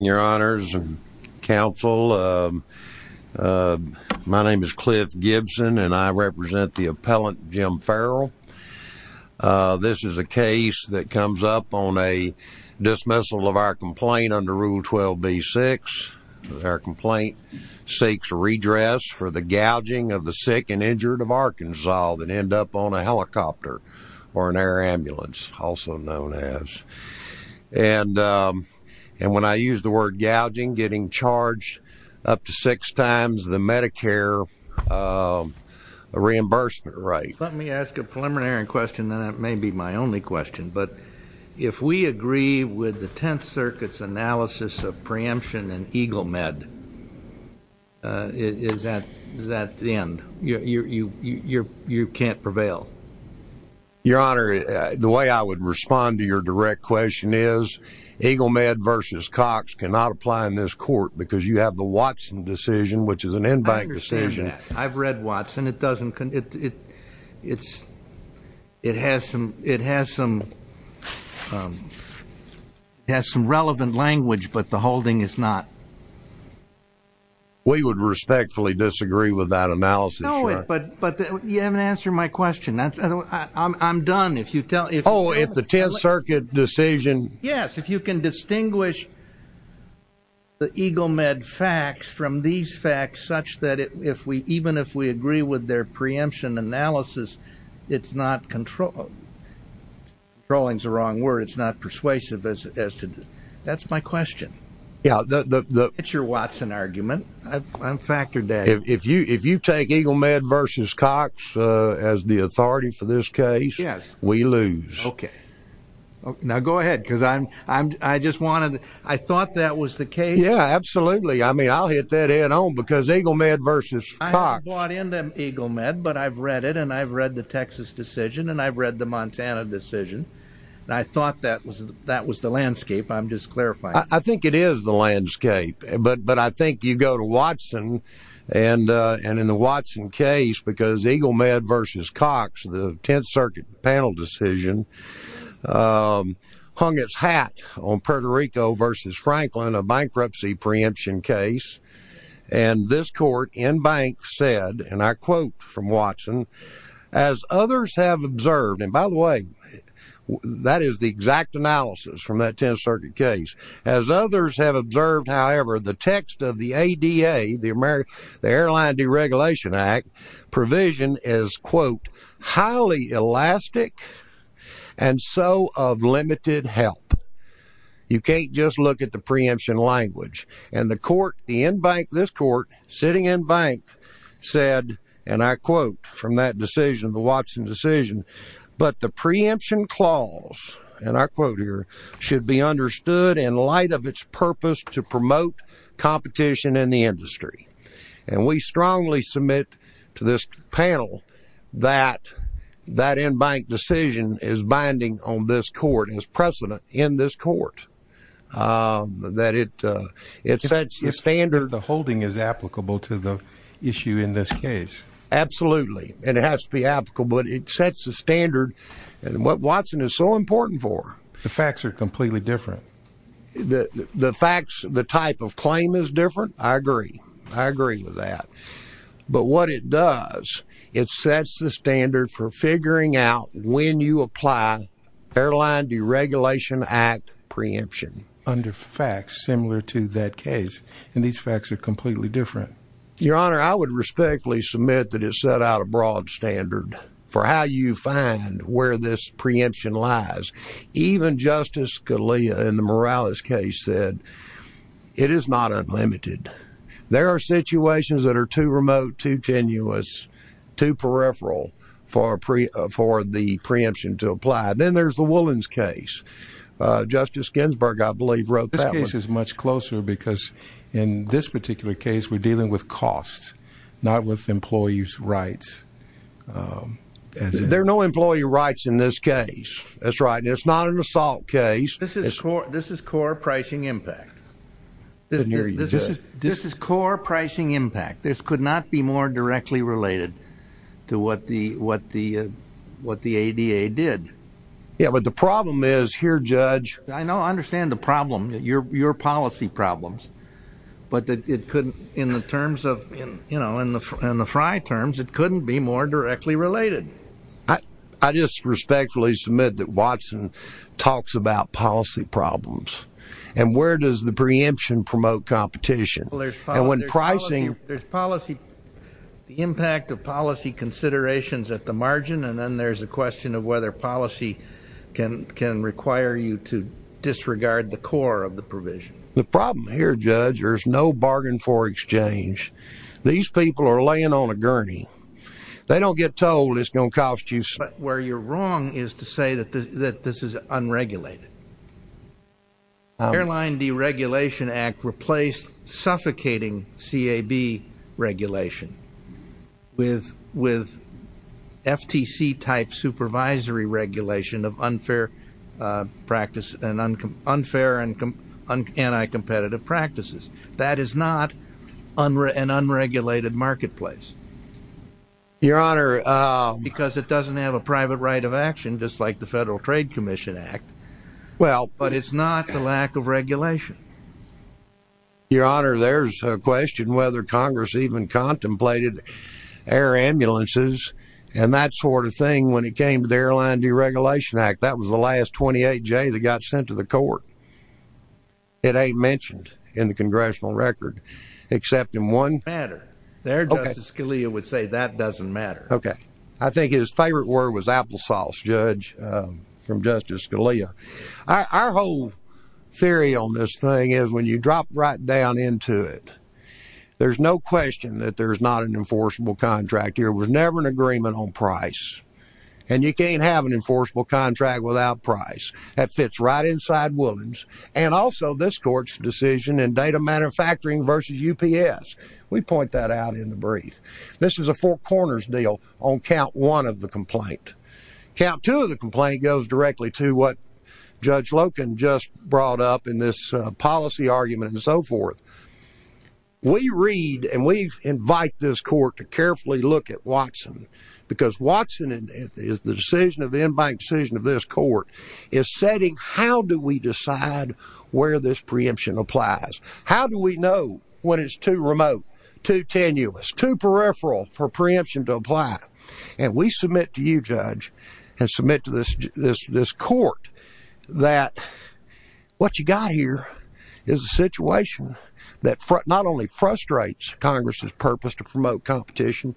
Your honors and counsel, my name is Cliff Gibson and I represent the appellant Jim Ferrell. This is a case that comes up on a dismissal of our complaint under rule 12b-6. Our complaint seeks redress for the gouging of the sick and injured of Arkansas that end up on a helicopter or an air ambulance, also known as. And when I use the word gouging, getting charged up to six times the Medicare reimbursement rate. Let me ask a preliminary question that may be my only question, but if we agree with the Tenth Circuit's analysis of preemption and Eagle Med, is that the you can't prevail? Your honor, the way I would respond to your direct question is Eagle Med versus Cox cannot apply in this court because you have the Watson decision, which is an in-bank decision. I've read Watson. It has some relevant language, but the holding is not. We would respectfully disagree with that analysis. But you haven't answered my question. I'm done if you tell. Oh, if the Tenth Circuit decision. Yes, if you can distinguish the Eagle Med facts from these facts such that if we even if we agree with their preemption analysis, it's not controlled. Controlling is the wrong word. It's not persuasive as to. That's my question. Yeah, that's your Watson argument. I'm factored that if you if you take Eagle Med versus Cox as the authority for this case, yes, we lose. OK, now go ahead, because I'm I'm I just wanted I thought that was the case. Yeah, absolutely. I mean, I'll hit that in on because Eagle Med versus I bought into Eagle Med, but I've read it and I've read the Texas decision and I've read the Montana decision and I thought that was that was the landscape. I'm just clarifying. I think it is the landscape. But but I think you go to Watson and and in the Watson case, because Eagle Med versus Cox, the Tenth Circuit panel decision hung its hat on Puerto Rico versus Franklin, a bankruptcy preemption case. And this court in bank said, and I quote from Watson, as others have observed. And by the way, that is the exact analysis from that Tenth Circuit case. As others have observed, however, the text of the ADA, the American Airline Deregulation Act provision is, quote, highly elastic and so of limited help. You can't just look at the preemption language and the court, the in bank, this court sitting in bank said, and I quote from that decision, the Watson decision. But the preemption clause, and I quote here, should be understood in light of its purpose to promote competition in the industry. And we strongly submit to this panel that that in bank decision is binding on this court is precedent in this court, that it it sets the standard. The holding is applicable to the issue in this case. Absolutely. And it has to be applicable. But it sets the standard. And what Watson is so important for the facts are completely different. The facts, the type of claim is different. I agree. I agree with that. But what it does, it sets the standard for figuring out when you apply Airline Deregulation Act preemption under facts similar to that case. And these facts are completely different. Your Honor, I would respectfully submit that it set out a broad standard for how you find where this preemption lies. Even Justice Scalia in the Morales case said it is not unlimited. There are situations that are too remote, too tenuous, too peripheral for pre for the preemption to apply. Then there's the Williams case. Justice Ginsburg, I believe, wrote this case is much closer because in this particular case, we're dealing with costs, not with employees' rights. There are no employee rights in this case. That's right. It's not an assault case. This is core pricing impact. This is core pricing impact. This could not be more directly related to what the ADA did. Yeah, but the problem is here, Judge. I know, your policy problems, but it couldn't, in the terms of, you know, in the Frye terms, it couldn't be more directly related. I just respectfully submit that Watson talks about policy problems. And where does the preemption promote competition? There's policy, the impact of policy considerations at the margin, and then there's a question of whether policy can require you to disregard the core of the provision. The problem here, Judge, there's no bargain for exchange. These people are laying on a gurney. They don't get told it's going to cost you. But where you're wrong is to say that this is unregulated. Airline Deregulation Act replaced suffocating CAB regulation with FTC-type supervisory regulation of unfair and anti-competitive practices. That is not an unregulated marketplace, because it doesn't have a private right of action, just like the Federal Trade Commission Act. But it's not the lack of regulation. Your Honor, there's a question whether Congress even contemplated air ambulances and that sort of thing when it came to the Airline Deregulation Act. That was the last 28J that got sent to the court. It ain't mentioned in the congressional record, except in one matter. There, Justice Scalia would say that doesn't matter. Okay. I think his favorite word was applesauce, Judge, from Justice Scalia. Our whole theory on this thing is when you drop right down into it, there's no question that there's not an enforceable contract. There was never an agreement on price. And you can't have an enforceable contract without price. That fits right inside Williams. And also this court's decision in data manufacturing versus UPS. We point that out in the brief. This is a four corners deal on count one of the complaint. Count two of the complaint goes directly to what Judge Loken just brought up in this policy argument and so forth. We read and we invite this court to carefully look at Watson because Watson is the decision of the in-bank decision of this court is setting how do we decide where this preemption applies? How do we know when it's too remote, too tenuous, too peripheral for preemption to apply? And we submit to you, Judge, and submit to this court that what you got here is a situation that not only frustrates Congress's purpose to promote competition,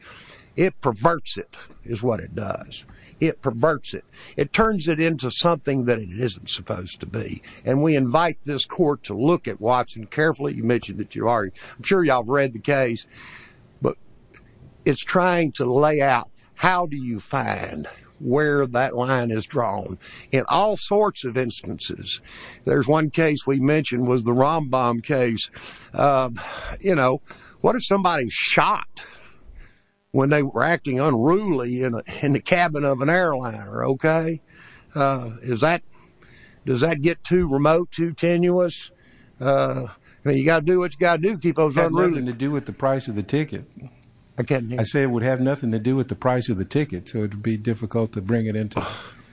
it perverts it is what it does. It perverts it. It turns it into something that it isn't supposed to be. And we invite this court to look at Watson carefully. You mentioned that you read the case, but it's trying to lay out. How do you find where that line is drawn in all sorts of instances? There's one case we mentioned was the Rambam case. You know, what if somebody shot when they were acting unruly in the cabin of an airliner? Okay. Is that does that get too remote, too tenuous? You got to do what you got to do. Keep those to do with the price of the ticket. Again, I say it would have nothing to do with the price of the ticket. So it would be difficult to bring it into.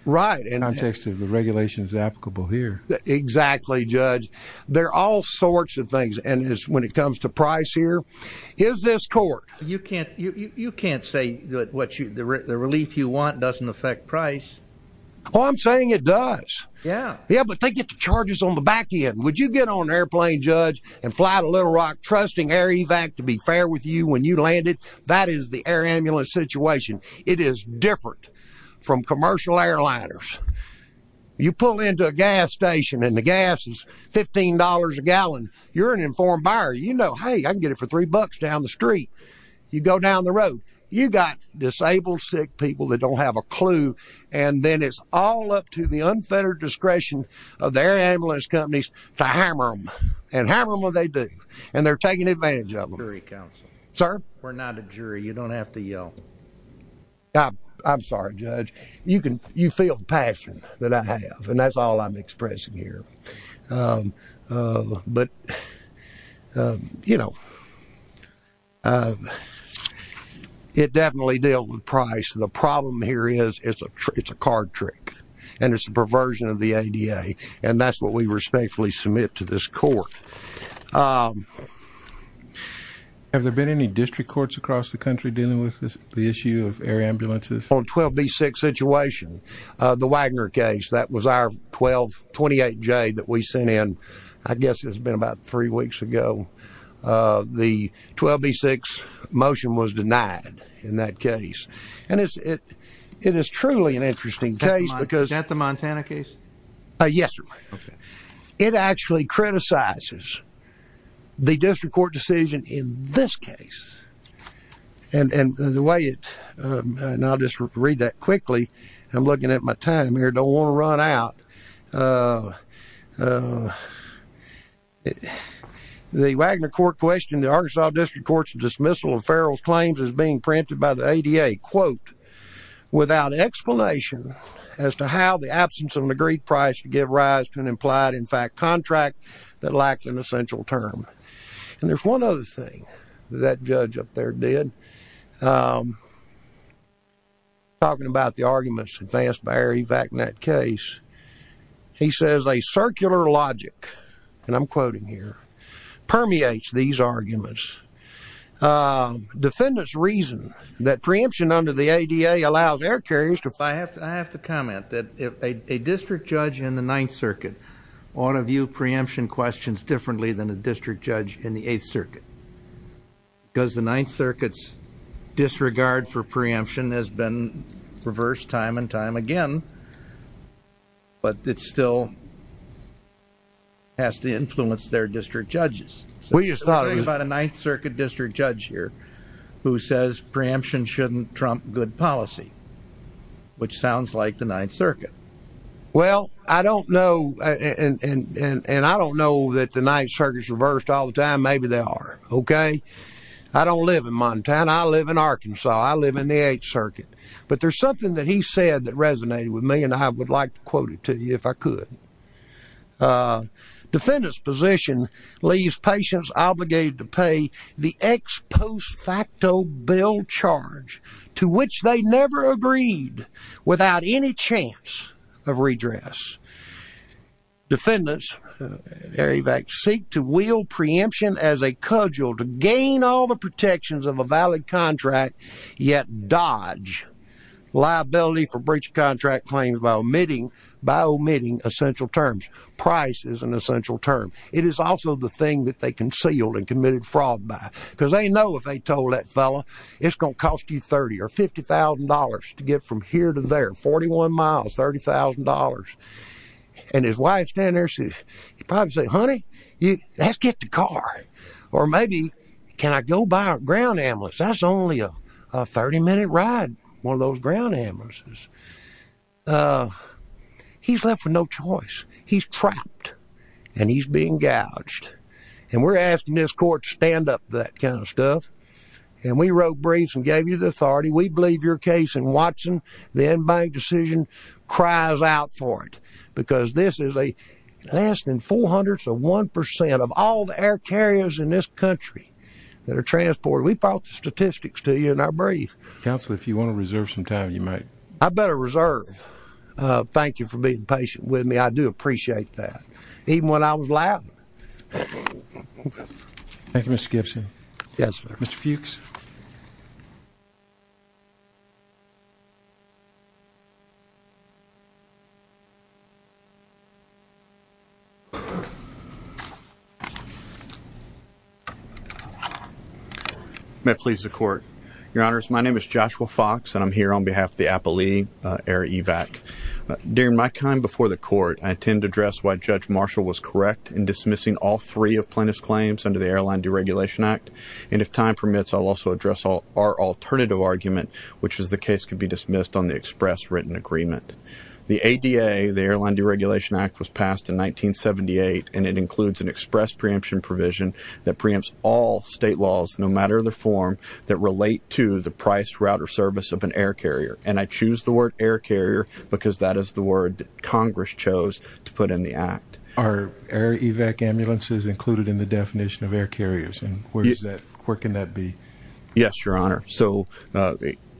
Right. And I'm just the regulations applicable here. Exactly, Judge. There are all sorts of things. And when it comes to price here, is this court you can't you can't say that what you the relief you want doesn't affect price. Well, I'm saying it does. Yeah. Yeah. But they get the charges on the back end. Would you get on an airplane, Judge, and fly to Little Rock trusting air evac to be fair with you when you landed? That is the air ambulance situation. It is different from commercial airliners. You pull into a gas station and the gas is fifteen dollars a gallon. You're an informed buyer. You know, hey, I can get it for three bucks down the street. You go down the road. You got disabled, sick people that don't have a clue. And then it's all up to the unfettered discretion of their ambulance companies to hammer them and hammer them what they do. And they're taking advantage of jury counsel, sir. We're not a jury. You don't have to yell. I'm sorry, Judge. You can you feel the passion that I have. And that's all I'm expressing here. But, you know, it definitely dealt with price. The problem here is it's a it's a card trick and it's a perversion of the ADA. And that's what we respectfully submit to this court. Have there been any district courts across the country dealing with the issue of air ambulances? On 12B6 situation, the Wagner case, that was our 1228J that we sent in. I guess it's been about three weeks ago. The 12B6 motion was denied in that case. And it's it it is truly an interesting case because at the Montana case. Yes. It actually criticizes the district court decision in this case and the way it and I'll just read that quickly. I'm looking at my time here. Don't want to run out. The Wagner court questioned the Arkansas District Court's dismissal of as to how the absence of an agreed price to give rise to an implied in fact contract that lacks an essential term. And there's one other thing that judge up there did talking about the arguments advanced by Ari Wagner case. He says a circular logic, and I'm quoting here, permeates these arguments. Defendants reason that preemption under the ADA allows air carriers to fly. I have to comment that if a district judge in the Ninth Circuit ought to view preemption questions differently than a district judge in the Eighth Circuit, because the Ninth Circuit's disregard for preemption has been reversed time and time again. But it still has to influence their district judges. We just thought about a Ninth Circuit district judge here who says preemption shouldn't trump good policy, which sounds like the Ninth Circuit. Well, I don't know. And I don't know that the Ninth Circuit's reversed all the time. Maybe they are. OK, I don't live in Montana. I live in Arkansas. I live in the Eighth Circuit. But there's something that he said that resonated with me. And I would like to quote it to you if I could. Defendant's position leaves patients obligated to pay the ex post facto bill charge to which they never agreed without any chance of redress. Defendants, Ari Wagner, seek to wield preemption as a cudgel to gain all the protections of a valid contract, yet dodge liability for breach of contract claims by omitting essential terms. Price is an essential term. It is also the thing that they concealed and committed fraud by, because they know if they told that fellow it's going to cost you $30,000 or $50,000 to get from here to there, 41 miles, $30,000. And his wife standing there, she'd probably say, honey, let's get the car. Or maybe can I go buy a ground ambulance? That's only a 30 minute ride. One of those ground ambulances. He's left with no choice. He's trapped and he's being gouged. And we're asking this court to stand up to that kind of stuff. And we wrote briefs and gave you the authority. We believe your case in Watson. The in-bank decision cries out for it, because this is a lasting 400 to 1% of all the air carriers in this country that are transported. We brought the statistics to you in our brief. Counselor, if you want to reserve some time, you might. I better reserve. Thank you for being patient with me. I do appreciate that. Even when I was loud. Thank you, Mr. Gibson. May it please the court. Your honors, my name is Joshua Fox, and I'm here on behalf of the Appalachian Air Evac. During my time before the court, I intend to address why Judge Marshall was correct in dismissing all three of Plaintiff's claims under the Airline Deregulation Act. And if time permits, I'll also address our alternative argument, which is the case could be dismissed on the express written agreement. The ADA, the Airline Deregulation Act, was passed in 1978, and it includes an express preemption provision that preempts all state laws, no matter the form, that relate to the price, route, or service of an air carrier. And I choose the word air carrier because that is the word Congress chose to put in the act. Are air evac ambulances included in the definition of air carriers? And where is that? Where can that be? Yes, your honor. So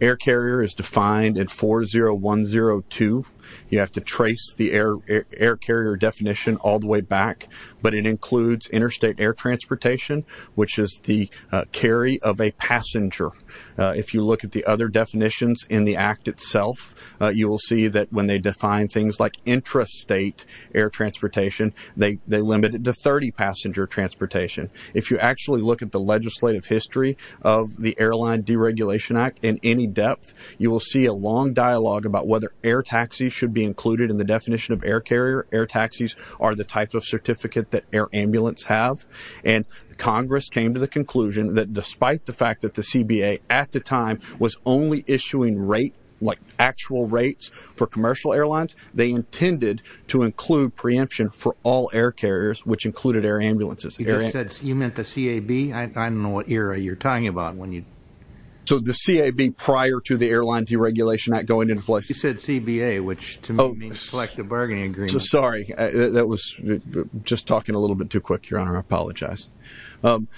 air carrier is defined in 40102. You have to trace the air carrier definition all the way back, but it includes interstate air transportation, which is the carry of a passenger. If you look at the other definitions in the act itself, you will see that when they define things like intrastate air transportation, they limit it to 30 passenger transportation. If you actually look at the legislative history of the Airline Deregulation Act in any depth, you will see a long dialogue about whether air taxis should be included in the definition of air carrier. Air taxis are the type of certificate that air ambulance have. And Congress came to the conclusion that despite the fact that the CBA at the time was only issuing rate, like actual rates for commercial airlines, they intended to include preemption for all air carriers, which included air ambulances. You meant the CAB? I don't know what era you're talking about. So the CAB prior to the Airline Deregulation Act going into place. You said CBA, which to me means Selective Bargaining Agreement. Sorry, that was just talking a little bit too quick, your honor. I apologize.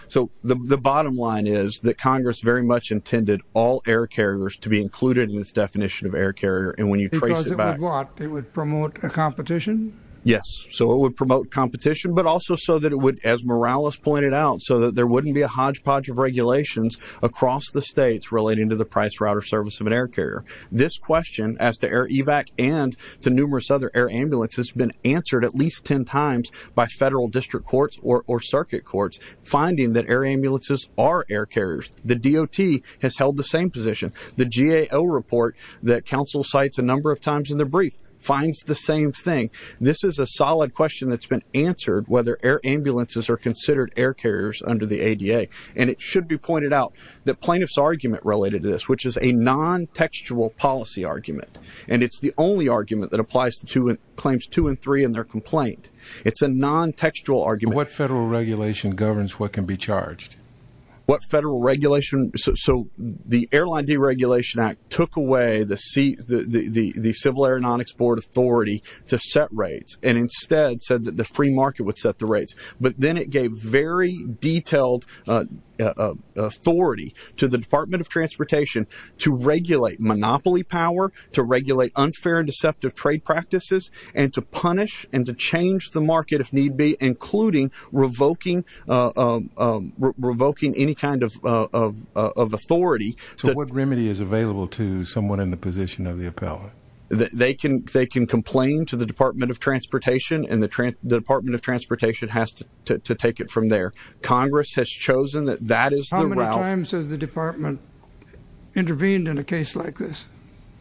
So the bottom line is that Congress very much intended all air carriers to be included in its definition of air carrier. And when you trace it back, it would promote a competition. Yes. So it would as Morales pointed out, so that there wouldn't be a hodgepodge of regulations across the states relating to the price route or service of an air carrier. This question as to air evac and to numerous other air ambulances has been answered at least 10 times by federal district courts or circuit courts finding that air ambulances are air carriers. The DOT has held the same position. The GAO report that counsel cites a number of times in the brief finds the same thing. This is a solid question that's been answered, whether air ambulances are considered air carriers under the ADA. And it should be pointed out that plaintiff's argument related to this, which is a non-textual policy argument. And it's the only argument that applies to claims two and three in their complaint. It's a non-textual argument. What federal regulation governs what can be charged? What federal regulation? So the Airline Deregulation Act took away the Civil Aeronautics Board authority to set rates and instead said that the free market would set the rates. But then it gave very detailed authority to the Department of Transportation to regulate monopoly power, to regulate unfair and deceptive trade practices, and to punish and to change the market if need be, including revoking any kind of authority. So what remedy is available to someone in the position of the appellant? They can complain to the Department of Transportation and the Department of Transportation has to take it from there. Congress has chosen that that is the route. How many times has the Department intervened in a case like this?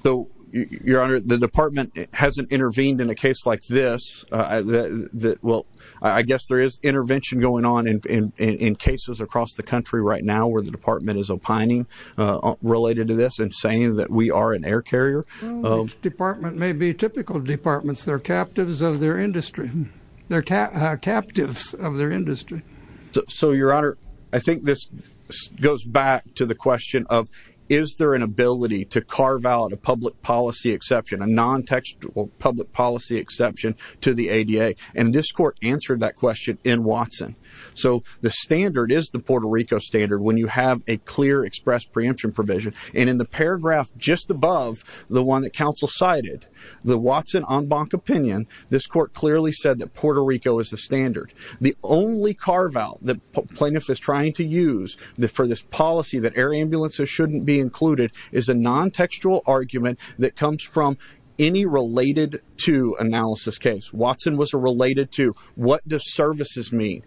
So, Your Honor, the Department hasn't intervened in a case like this. Well, I guess there is intervention going on in cases across the country right now where the Department is opining related to this and we are an air carrier. Each department may be typical departments. They're captives of their industry. They're captives of their industry. So, Your Honor, I think this goes back to the question of is there an ability to carve out a public policy exception, a non-textual public policy exception to the ADA? And this court answered that question in Watson. So the standard is the Puerto Rico standard when you have a clear express preemption provision and in the paragraph just above the one that counsel cited, the Watson en banc opinion, this court clearly said that Puerto Rico is the standard. The only carve out the plaintiff is trying to use for this policy that air ambulances shouldn't be included is a non-textual argument that comes from any related to analysis case. Watson was a related to what does services mean?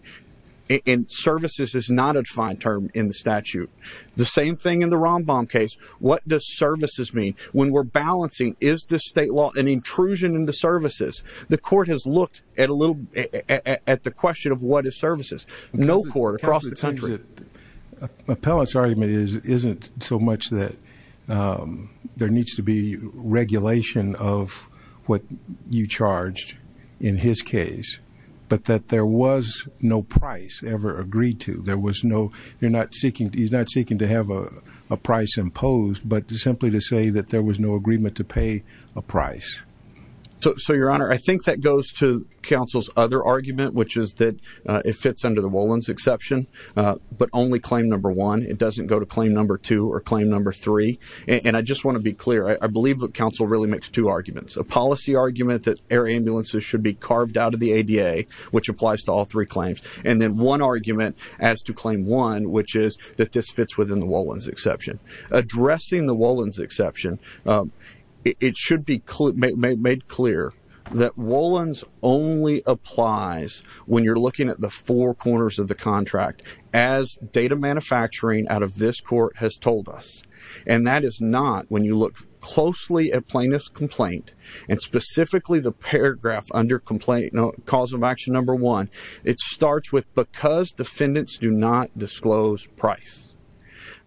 And services is not a defined term in the statute. The same thing in the rambam case. What does services mean when we're balancing? Is the state law an intrusion into services? The court has looked at a little at the question of what is services. No court across the country. Appellant's argument is isn't so much that there needs to be regulation of what you charged in his case, but that there was no price ever agreed to. There was no, you're not seeking, he's not seeking to have a price imposed, but simply to say that there was no agreement to pay a price. So your honor, I think that goes to counsel's other argument, which is that it fits under the Wolins exception, but only claim number one. It doesn't go to claim number two or claim number three. And I just want to be clear. I believe that counsel really makes two arguments. A policy argument that air ambulances should be as to claim one, which is that this fits within the Wolins exception. Addressing the Wolins exception, it should be made clear that Wolins only applies when you're looking at the four corners of the contract, as data manufacturing out of this court has told us. And that is not when you look closely at plaintiff's complaint and specifically the paragraph under complaint cause of action. Number one, it starts with, because defendants do not disclose price,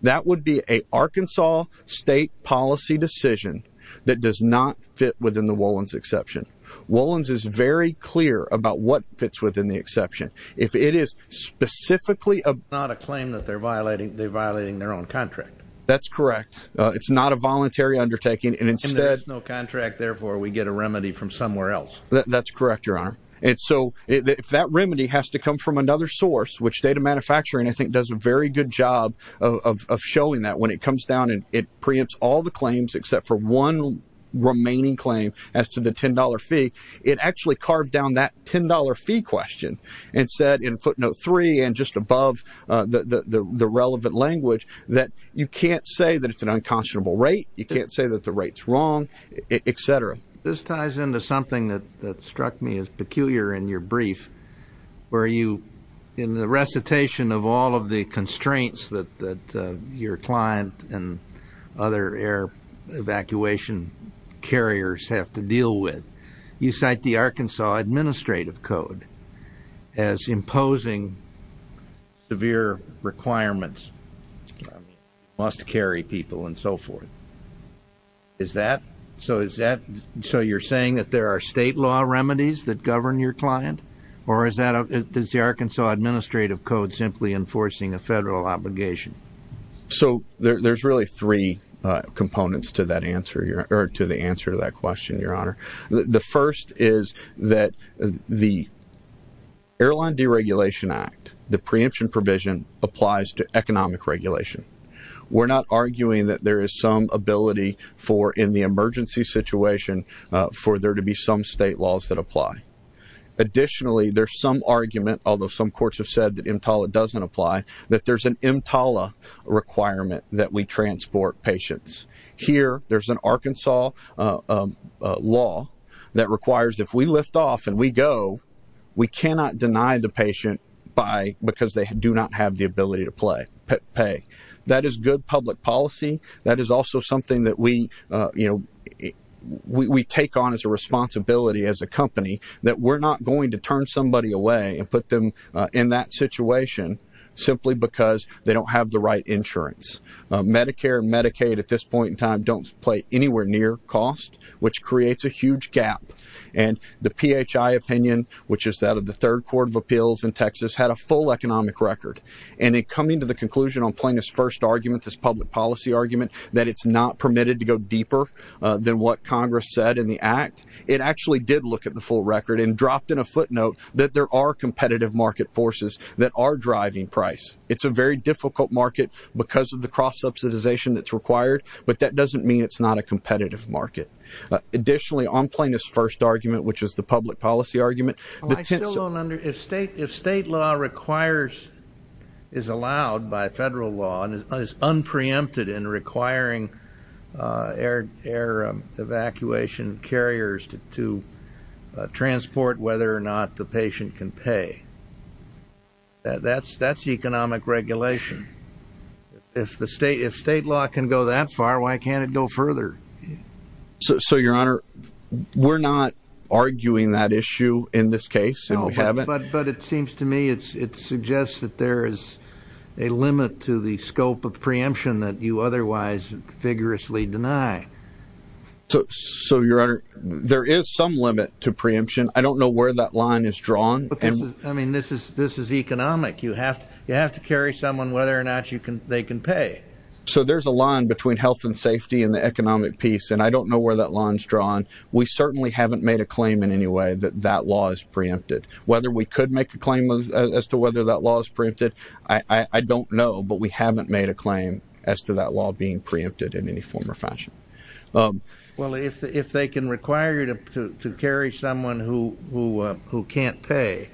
that would be a Arkansas state policy decision that does not fit within the Wolins exception. Wolins is very clear about what fits within the exception. If it is specifically not a claim that they're violating, they're violating their own contract. That's correct. It's not a voluntary undertaking and instead there's no contract. Therefore we get a remedy from somewhere else. That's correct, your honor. And so if that remedy has to come from another source, which data manufacturing, I think does a very good job of showing that when it comes down and it preempts all the claims except for one remaining claim as to the $10 fee, it actually carved down that $10 fee question and said in footnote three and just above the relevant language that you can't say that it's an unconscionable rate. You can't say that the rate's wrong, etc. This ties into something that struck me as peculiar in your brief where you, in the recitation of all of the constraints that your client and other air evacuation carriers have to deal with, you cite the Arkansas administrative code as imposing severe requirements. Must carry people and so forth. So you're saying that there are state law remedies that govern your client or is the Arkansas administrative code simply enforcing a federal obligation? So there's really three components to the answer to that question, your honor. The first is that the airline deregulation act, the preemption provision applies to economic regulation. We're not arguing that there is some ability for in the emergency situation for there to be some state laws that apply. Additionally, there's some argument, although some courts have said that EMTALA doesn't apply, that there's an EMTALA requirement that we transport patients. Here, there's an Arkansas law that requires if lift off and we go, we cannot deny the patient because they do not have the ability to pay. That is good public policy. That is also something that we take on as a responsibility as a company, that we're not going to turn somebody away and put them in that situation simply because they don't have the right insurance. Medicare and Medicaid at this point in time don't play anywhere near cost, which creates a huge gap. And the PHI opinion, which is that of the third court of appeals in Texas had a full economic record. And in coming to the conclusion on playing this first argument, this public policy argument, that it's not permitted to go deeper than what Congress said in the act, it actually did look at the full record and dropped in a footnote that there are competitive market forces that are driving price. It's a very difficult market because of the market. Additionally, on playing this first argument, which is the public policy argument, if state law requires is allowed by federal law and is unpreempted in requiring air evacuation carriers to transport whether or not the patient can pay, that's economic regulation. If the state, if state law can go that far, why can't it go further? So your honor, we're not arguing that issue in this case. But it seems to me it's it suggests that there is a limit to the scope of preemption that you otherwise vigorously deny. So your honor, there is some limit to preemption. I don't know where that line is drawn. I mean, this is this is economic, you have to you have to carry someone whether or not you can they can pay. So there's a line between health and safety and the economic piece. And I don't know where that line is drawn. We certainly haven't made a claim in any way that that law is preempted, whether we could make a claim as to whether that law is printed. I don't know. But we haven't made a claim as to that law being preempted in any form or fashion. Well, if they can require you to carry someone who who can't pay,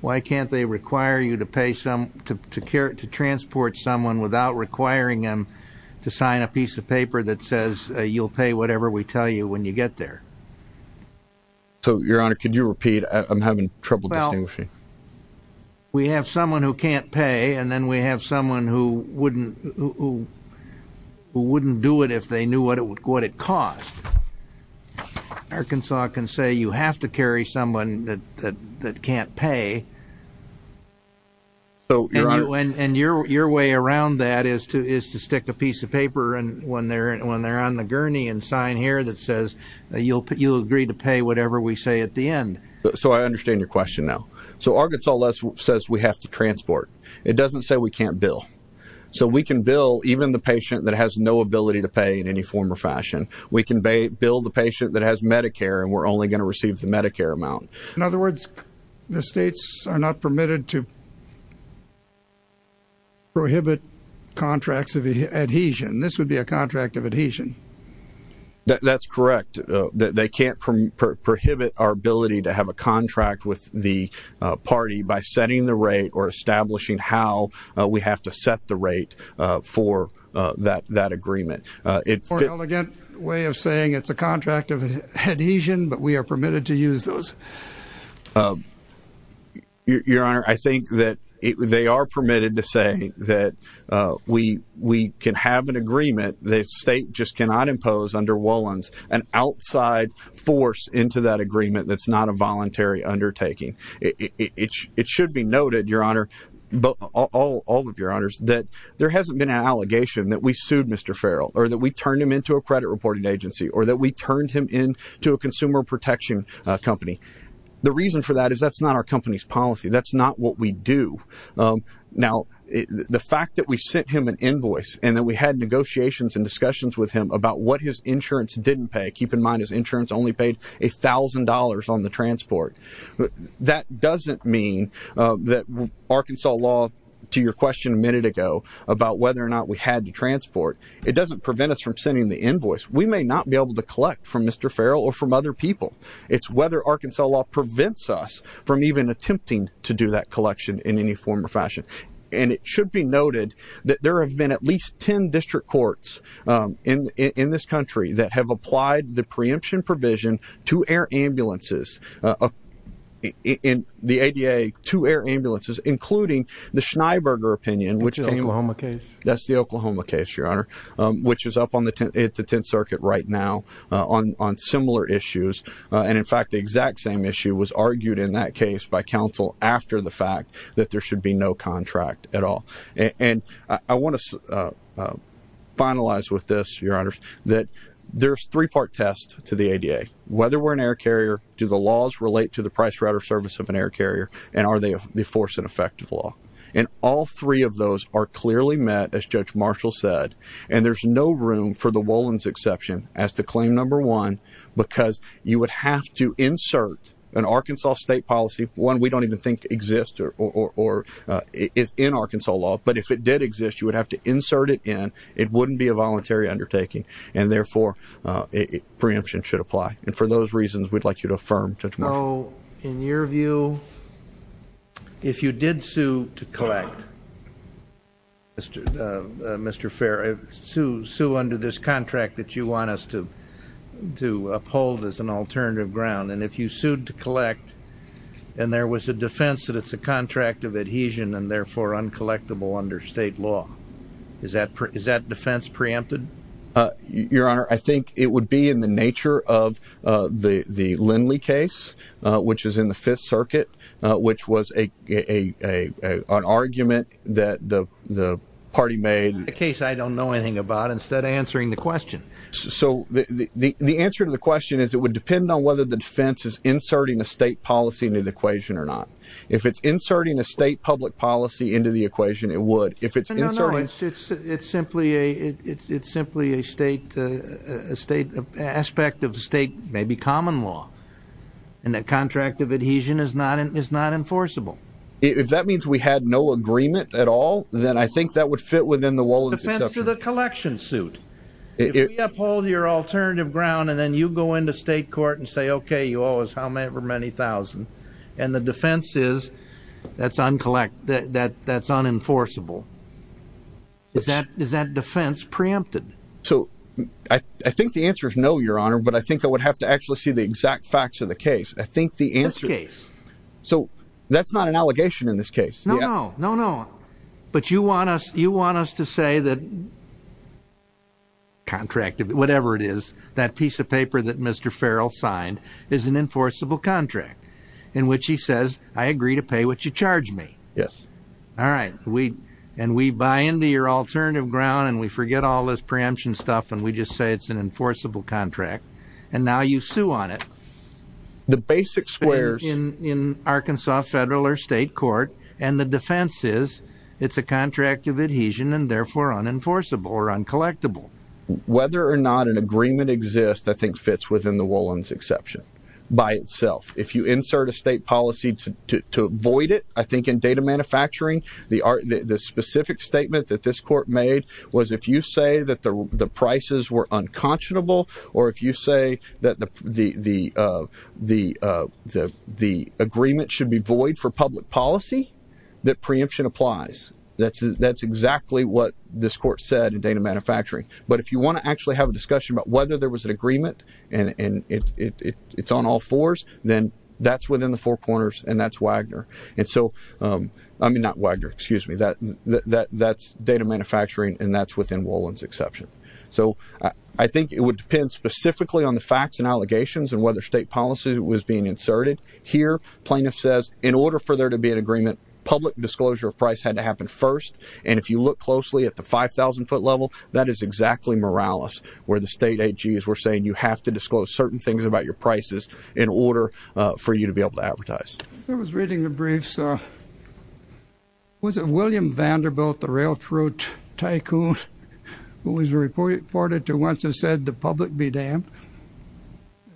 why can't they require you to pay some to care to transport someone without requiring them to sign a piece of paper that says you'll pay whatever we tell you when you get there. So your honor, could you repeat? I'm having trouble distinguishing. We have someone who can't pay and then we have someone who wouldn't who would it cost? Arkansas can say you have to carry someone that that can't pay. So when and your your way around that is to is to stick a piece of paper and when they're when they're on the gurney and sign here that says you'll put you'll agree to pay whatever we say at the end. So I understand your question now. So Arkansas less says we have to transport. It doesn't say we can't bill. So we can bill even the patient that has no ability to pay any form or fashion. We can build a patient that has Medicare and we're only going to receive the Medicare amount. In other words, the states are not permitted to prohibit contracts of adhesion. This would be a contract of adhesion. That's correct. They can't prohibit our ability to have a contract with the party by setting the rate for that agreement. It's an elegant way of saying it's a contract of adhesion, but we are permitted to use those. Your Honor, I think that they are permitted to say that we we can have an agreement that state just cannot impose under Wollons an outside force into that agreement. That's not a voluntary undertaking. It should be noted, Your Honor, but all of your honors that there hasn't been an allegation that we sued Mr. Farrell or that we turned him into a credit reporting agency or that we turned him into a consumer protection company. The reason for that is that's not our company's policy. That's not what we do. Now, the fact that we sent him an invoice and that we had negotiations and discussions with him about what his insurance didn't pay. Keep in mind, his insurance only paid a thousand dollars on the to your question a minute ago about whether or not we had to transport. It doesn't prevent us from sending the invoice. We may not be able to collect from Mr. Farrell or from other people. It's whether Arkansas law prevents us from even attempting to do that collection in any form or fashion. And it should be noted that there have been at least 10 district courts in this country that have applied the preemption provision to air ambulances, a in the A.D.A. two air ambulances, including the Schneider opinion, which is a case that's the Oklahoma case, Your Honor, which is up on the 10th Circuit right now on similar issues. And in fact, the exact same issue was argued in that case by counsel after the fact that there should be no contract at all. And I want to finalize with this, Your Honor, that there's three part test to the A.D.A. Whether we're an air carrier, do the laws relate to the price rate or service of an air carrier? And are they the force and effective law? And all three of those are clearly met, as Judge Marshall said. And there's no room for the Wolins exception as to claim number one, because you would have to insert an Arkansas state policy, one we don't even think exist or is in Arkansas law. But if it did exist, you would have to insert it in. It wouldn't be a voluntary undertaking, and therefore, preemption should apply. And for those reasons, we'd like you to affirm, Judge Marshall. So in your view, if you did sue to collect, Mr. Fair, sue under this contract that you want us to uphold as an alternative ground. And if you sued to collect and there was a defense that it's a defense preempted. Your Honor, I think it would be in the nature of the Lindley case, which is in the Fifth Circuit, which was a an argument that the party made a case. I don't know anything about instead of answering the question. So the answer to the question is it would depend on whether the defense is inserting a state policy into the equation or not. If it's inserting a state public policy into the equation, it would. If it's inserted, it's simply a it's simply a state state aspect of state, maybe common law. And that contract of adhesion is not is not enforceable. If that means we had no agreement at all, then I think that would fit within the wall of the collection suit. If you uphold your alternative ground and then you go into state court and say, OK, you owe us however many thousand. And the defense is that's uncollect that that's unenforceable. Is that is that defense preempted? So I think the answer is no, Your Honor, but I think I would have to actually see the exact facts of the case. I think the answer is so that's not an allegation in this case. No, no, no, no. But you want us you want us to say that. Contract, whatever it is, that piece of paper that Mr. Farrell signed is an enforceable contract in which he says, I agree to pay what you charge me. Yes. All right. And we buy into your alternative ground and we forget all this preemption stuff. And we just say it's an enforceable contract. And now you sue on it. The basic squares in Arkansas federal or state court and the defense is it's a contract of adhesion and therefore unenforceable or uncollectable. Whether or not an agreement exists, I think fits within the Wollons exception by itself. If you insert a state policy to avoid it, I think in data manufacturing, the specific statement that this court made was if you say that the prices were unconscionable or if you say that the agreement should be void for public policy, that preemption applies. That's exactly what this court said in data manufacturing. But if you want to actually have a discussion about whether there was an agreement and it's on all fours, then that's within the four corners and that's Wagner. And so I mean, not Wagner, excuse me, that's data manufacturing and that's within Wollons exception. So I think it would depend specifically on the facts and allegations and whether state policy was being inserted here. Plaintiff says in order for there to be an agreement, public disclosure of price had to happen first. And if you look where the state AGs were saying, you have to disclose certain things about your prices in order for you to be able to advertise. I was reading the briefs. Was it William Vanderbilt, the real fruit tycoon who was reported to once have said the public be damned.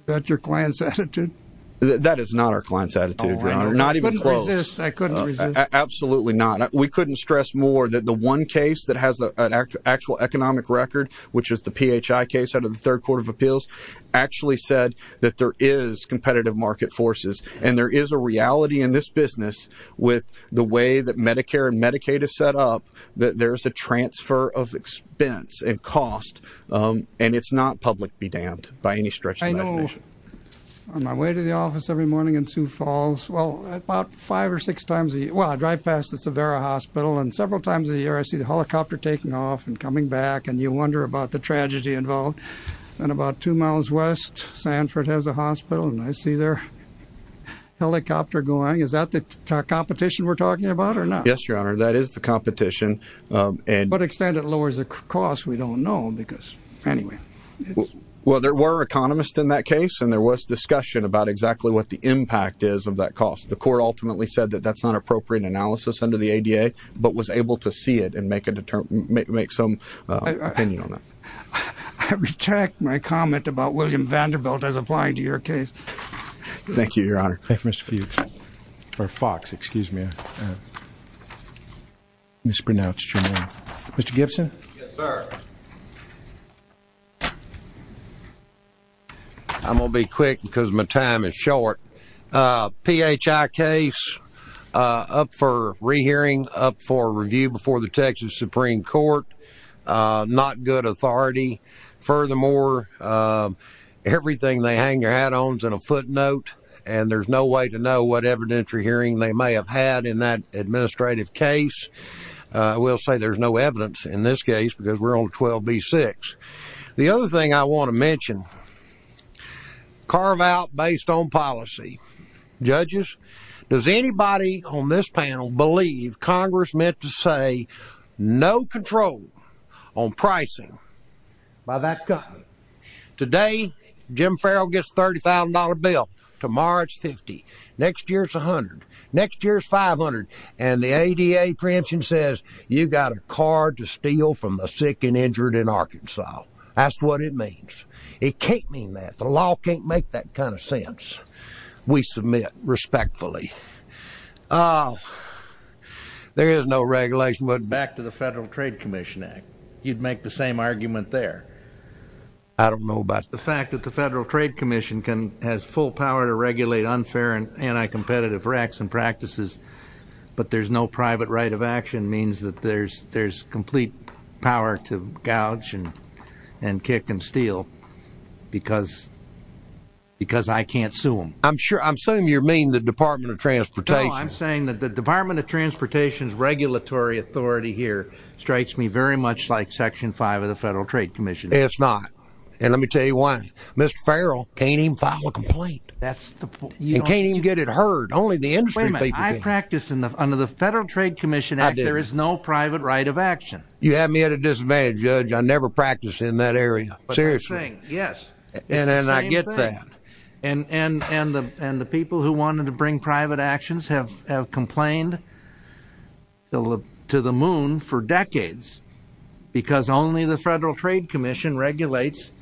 That's your client's attitude. That is not our client's attitude. We're not even close. Absolutely not. We couldn't stress more that the one case that has an actual economic record, which is the PHI case out of the third court of appeals, actually said that there is competitive market forces. And there is a reality in this business with the way that Medicare and Medicaid is set up, that there's a transfer of expense and cost. And it's not public be damned by any stretch. I know on my way to the office every morning in Sioux Falls, well, about five or six times a year. Well, I drive past the Severa Hospital and several times a year I see the tragedy involved. And about two miles west, Sanford has a hospital and I see their helicopter going. Is that the competition we're talking about or not? Yes, your honor. That is the competition. And what extent it lowers the cost? We don't know because anyway, well, there were economists in that case and there was discussion about exactly what the impact is of that cost. The court ultimately said that that's not appropriate analysis under the ADA, but was I retract my comment about William Vanderbilt as applying to your case? Thank you, your honor. Mr. Fuchs or Fox, excuse me, mispronounced your name. Mr. Gibson. Yes, sir. I'm going to be quick because my time is short. PHI case up for rehearing up for review before the Texas Supreme Court. Not good authority. Furthermore, everything they hang their hat on is in a footnote and there's no way to know what evidentiary hearing they may have had in that administrative case. I will say there's no evidence in this case because we're on 12B6. The other thing I want to mention, carve out based on policy. Judges, does anybody on this panel believe Congress meant to say no control on pricing by that guy? Today, Jim Farrell gets a $30,000 bill. Tomorrow it's 50. Next year, it's 100. Next year is 500. And the ADA preemption says you got a card to steal from the sick and injured in Arkansas. That's what it means. It can't mean that the law can't make that kind of sense. We submit respectfully. There is no regulation. But back to the Federal Trade Commission Act, you'd make the same argument there. I don't know about the fact that the Federal Trade Commission can has full power to regulate unfair and anti-competitive racks and practices. But there's no private right of action means that there's there's complete power to gouge and kick and steal because because I can't sue them. I'm sure I'm saying you're the Department of Transportation. I'm saying that the Department of Transportation's regulatory authority here strikes me very much like Section five of the Federal Trade Commission. It's not. And let me tell you why. Mr. Farrell can't even file a complaint. That's the you can't even get it heard. Only the industry. I practice in the under the Federal Trade Commission. There is no private right of action. You have me at a disadvantage, Judge. I never practiced in that actions have complained to the moon for decades because only the Federal Trade Commission regulates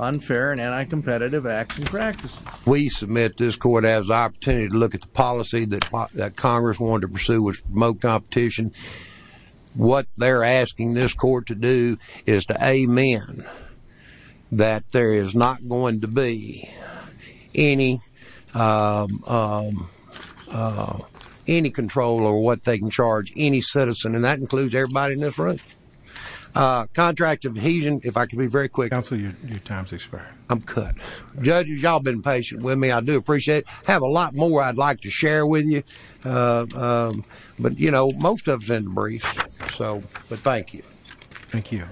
unfair and anti-competitive acts and practices. We submit this court has the opportunity to look at the policy that Congress wanted to pursue was remote competition. What they're asking this court to do is to amen that there is not going to be any uh any control over what they can charge any citizen and that includes everybody in this room. Uh contract of adhesion if I could be very quick. Counsel your time's expired. I'm cut. Judges y'all been patient with me. I do appreciate it. Have a lot more I'd like to share with you. Uh um but you know most of it's in the brief so but thank you. Thank you.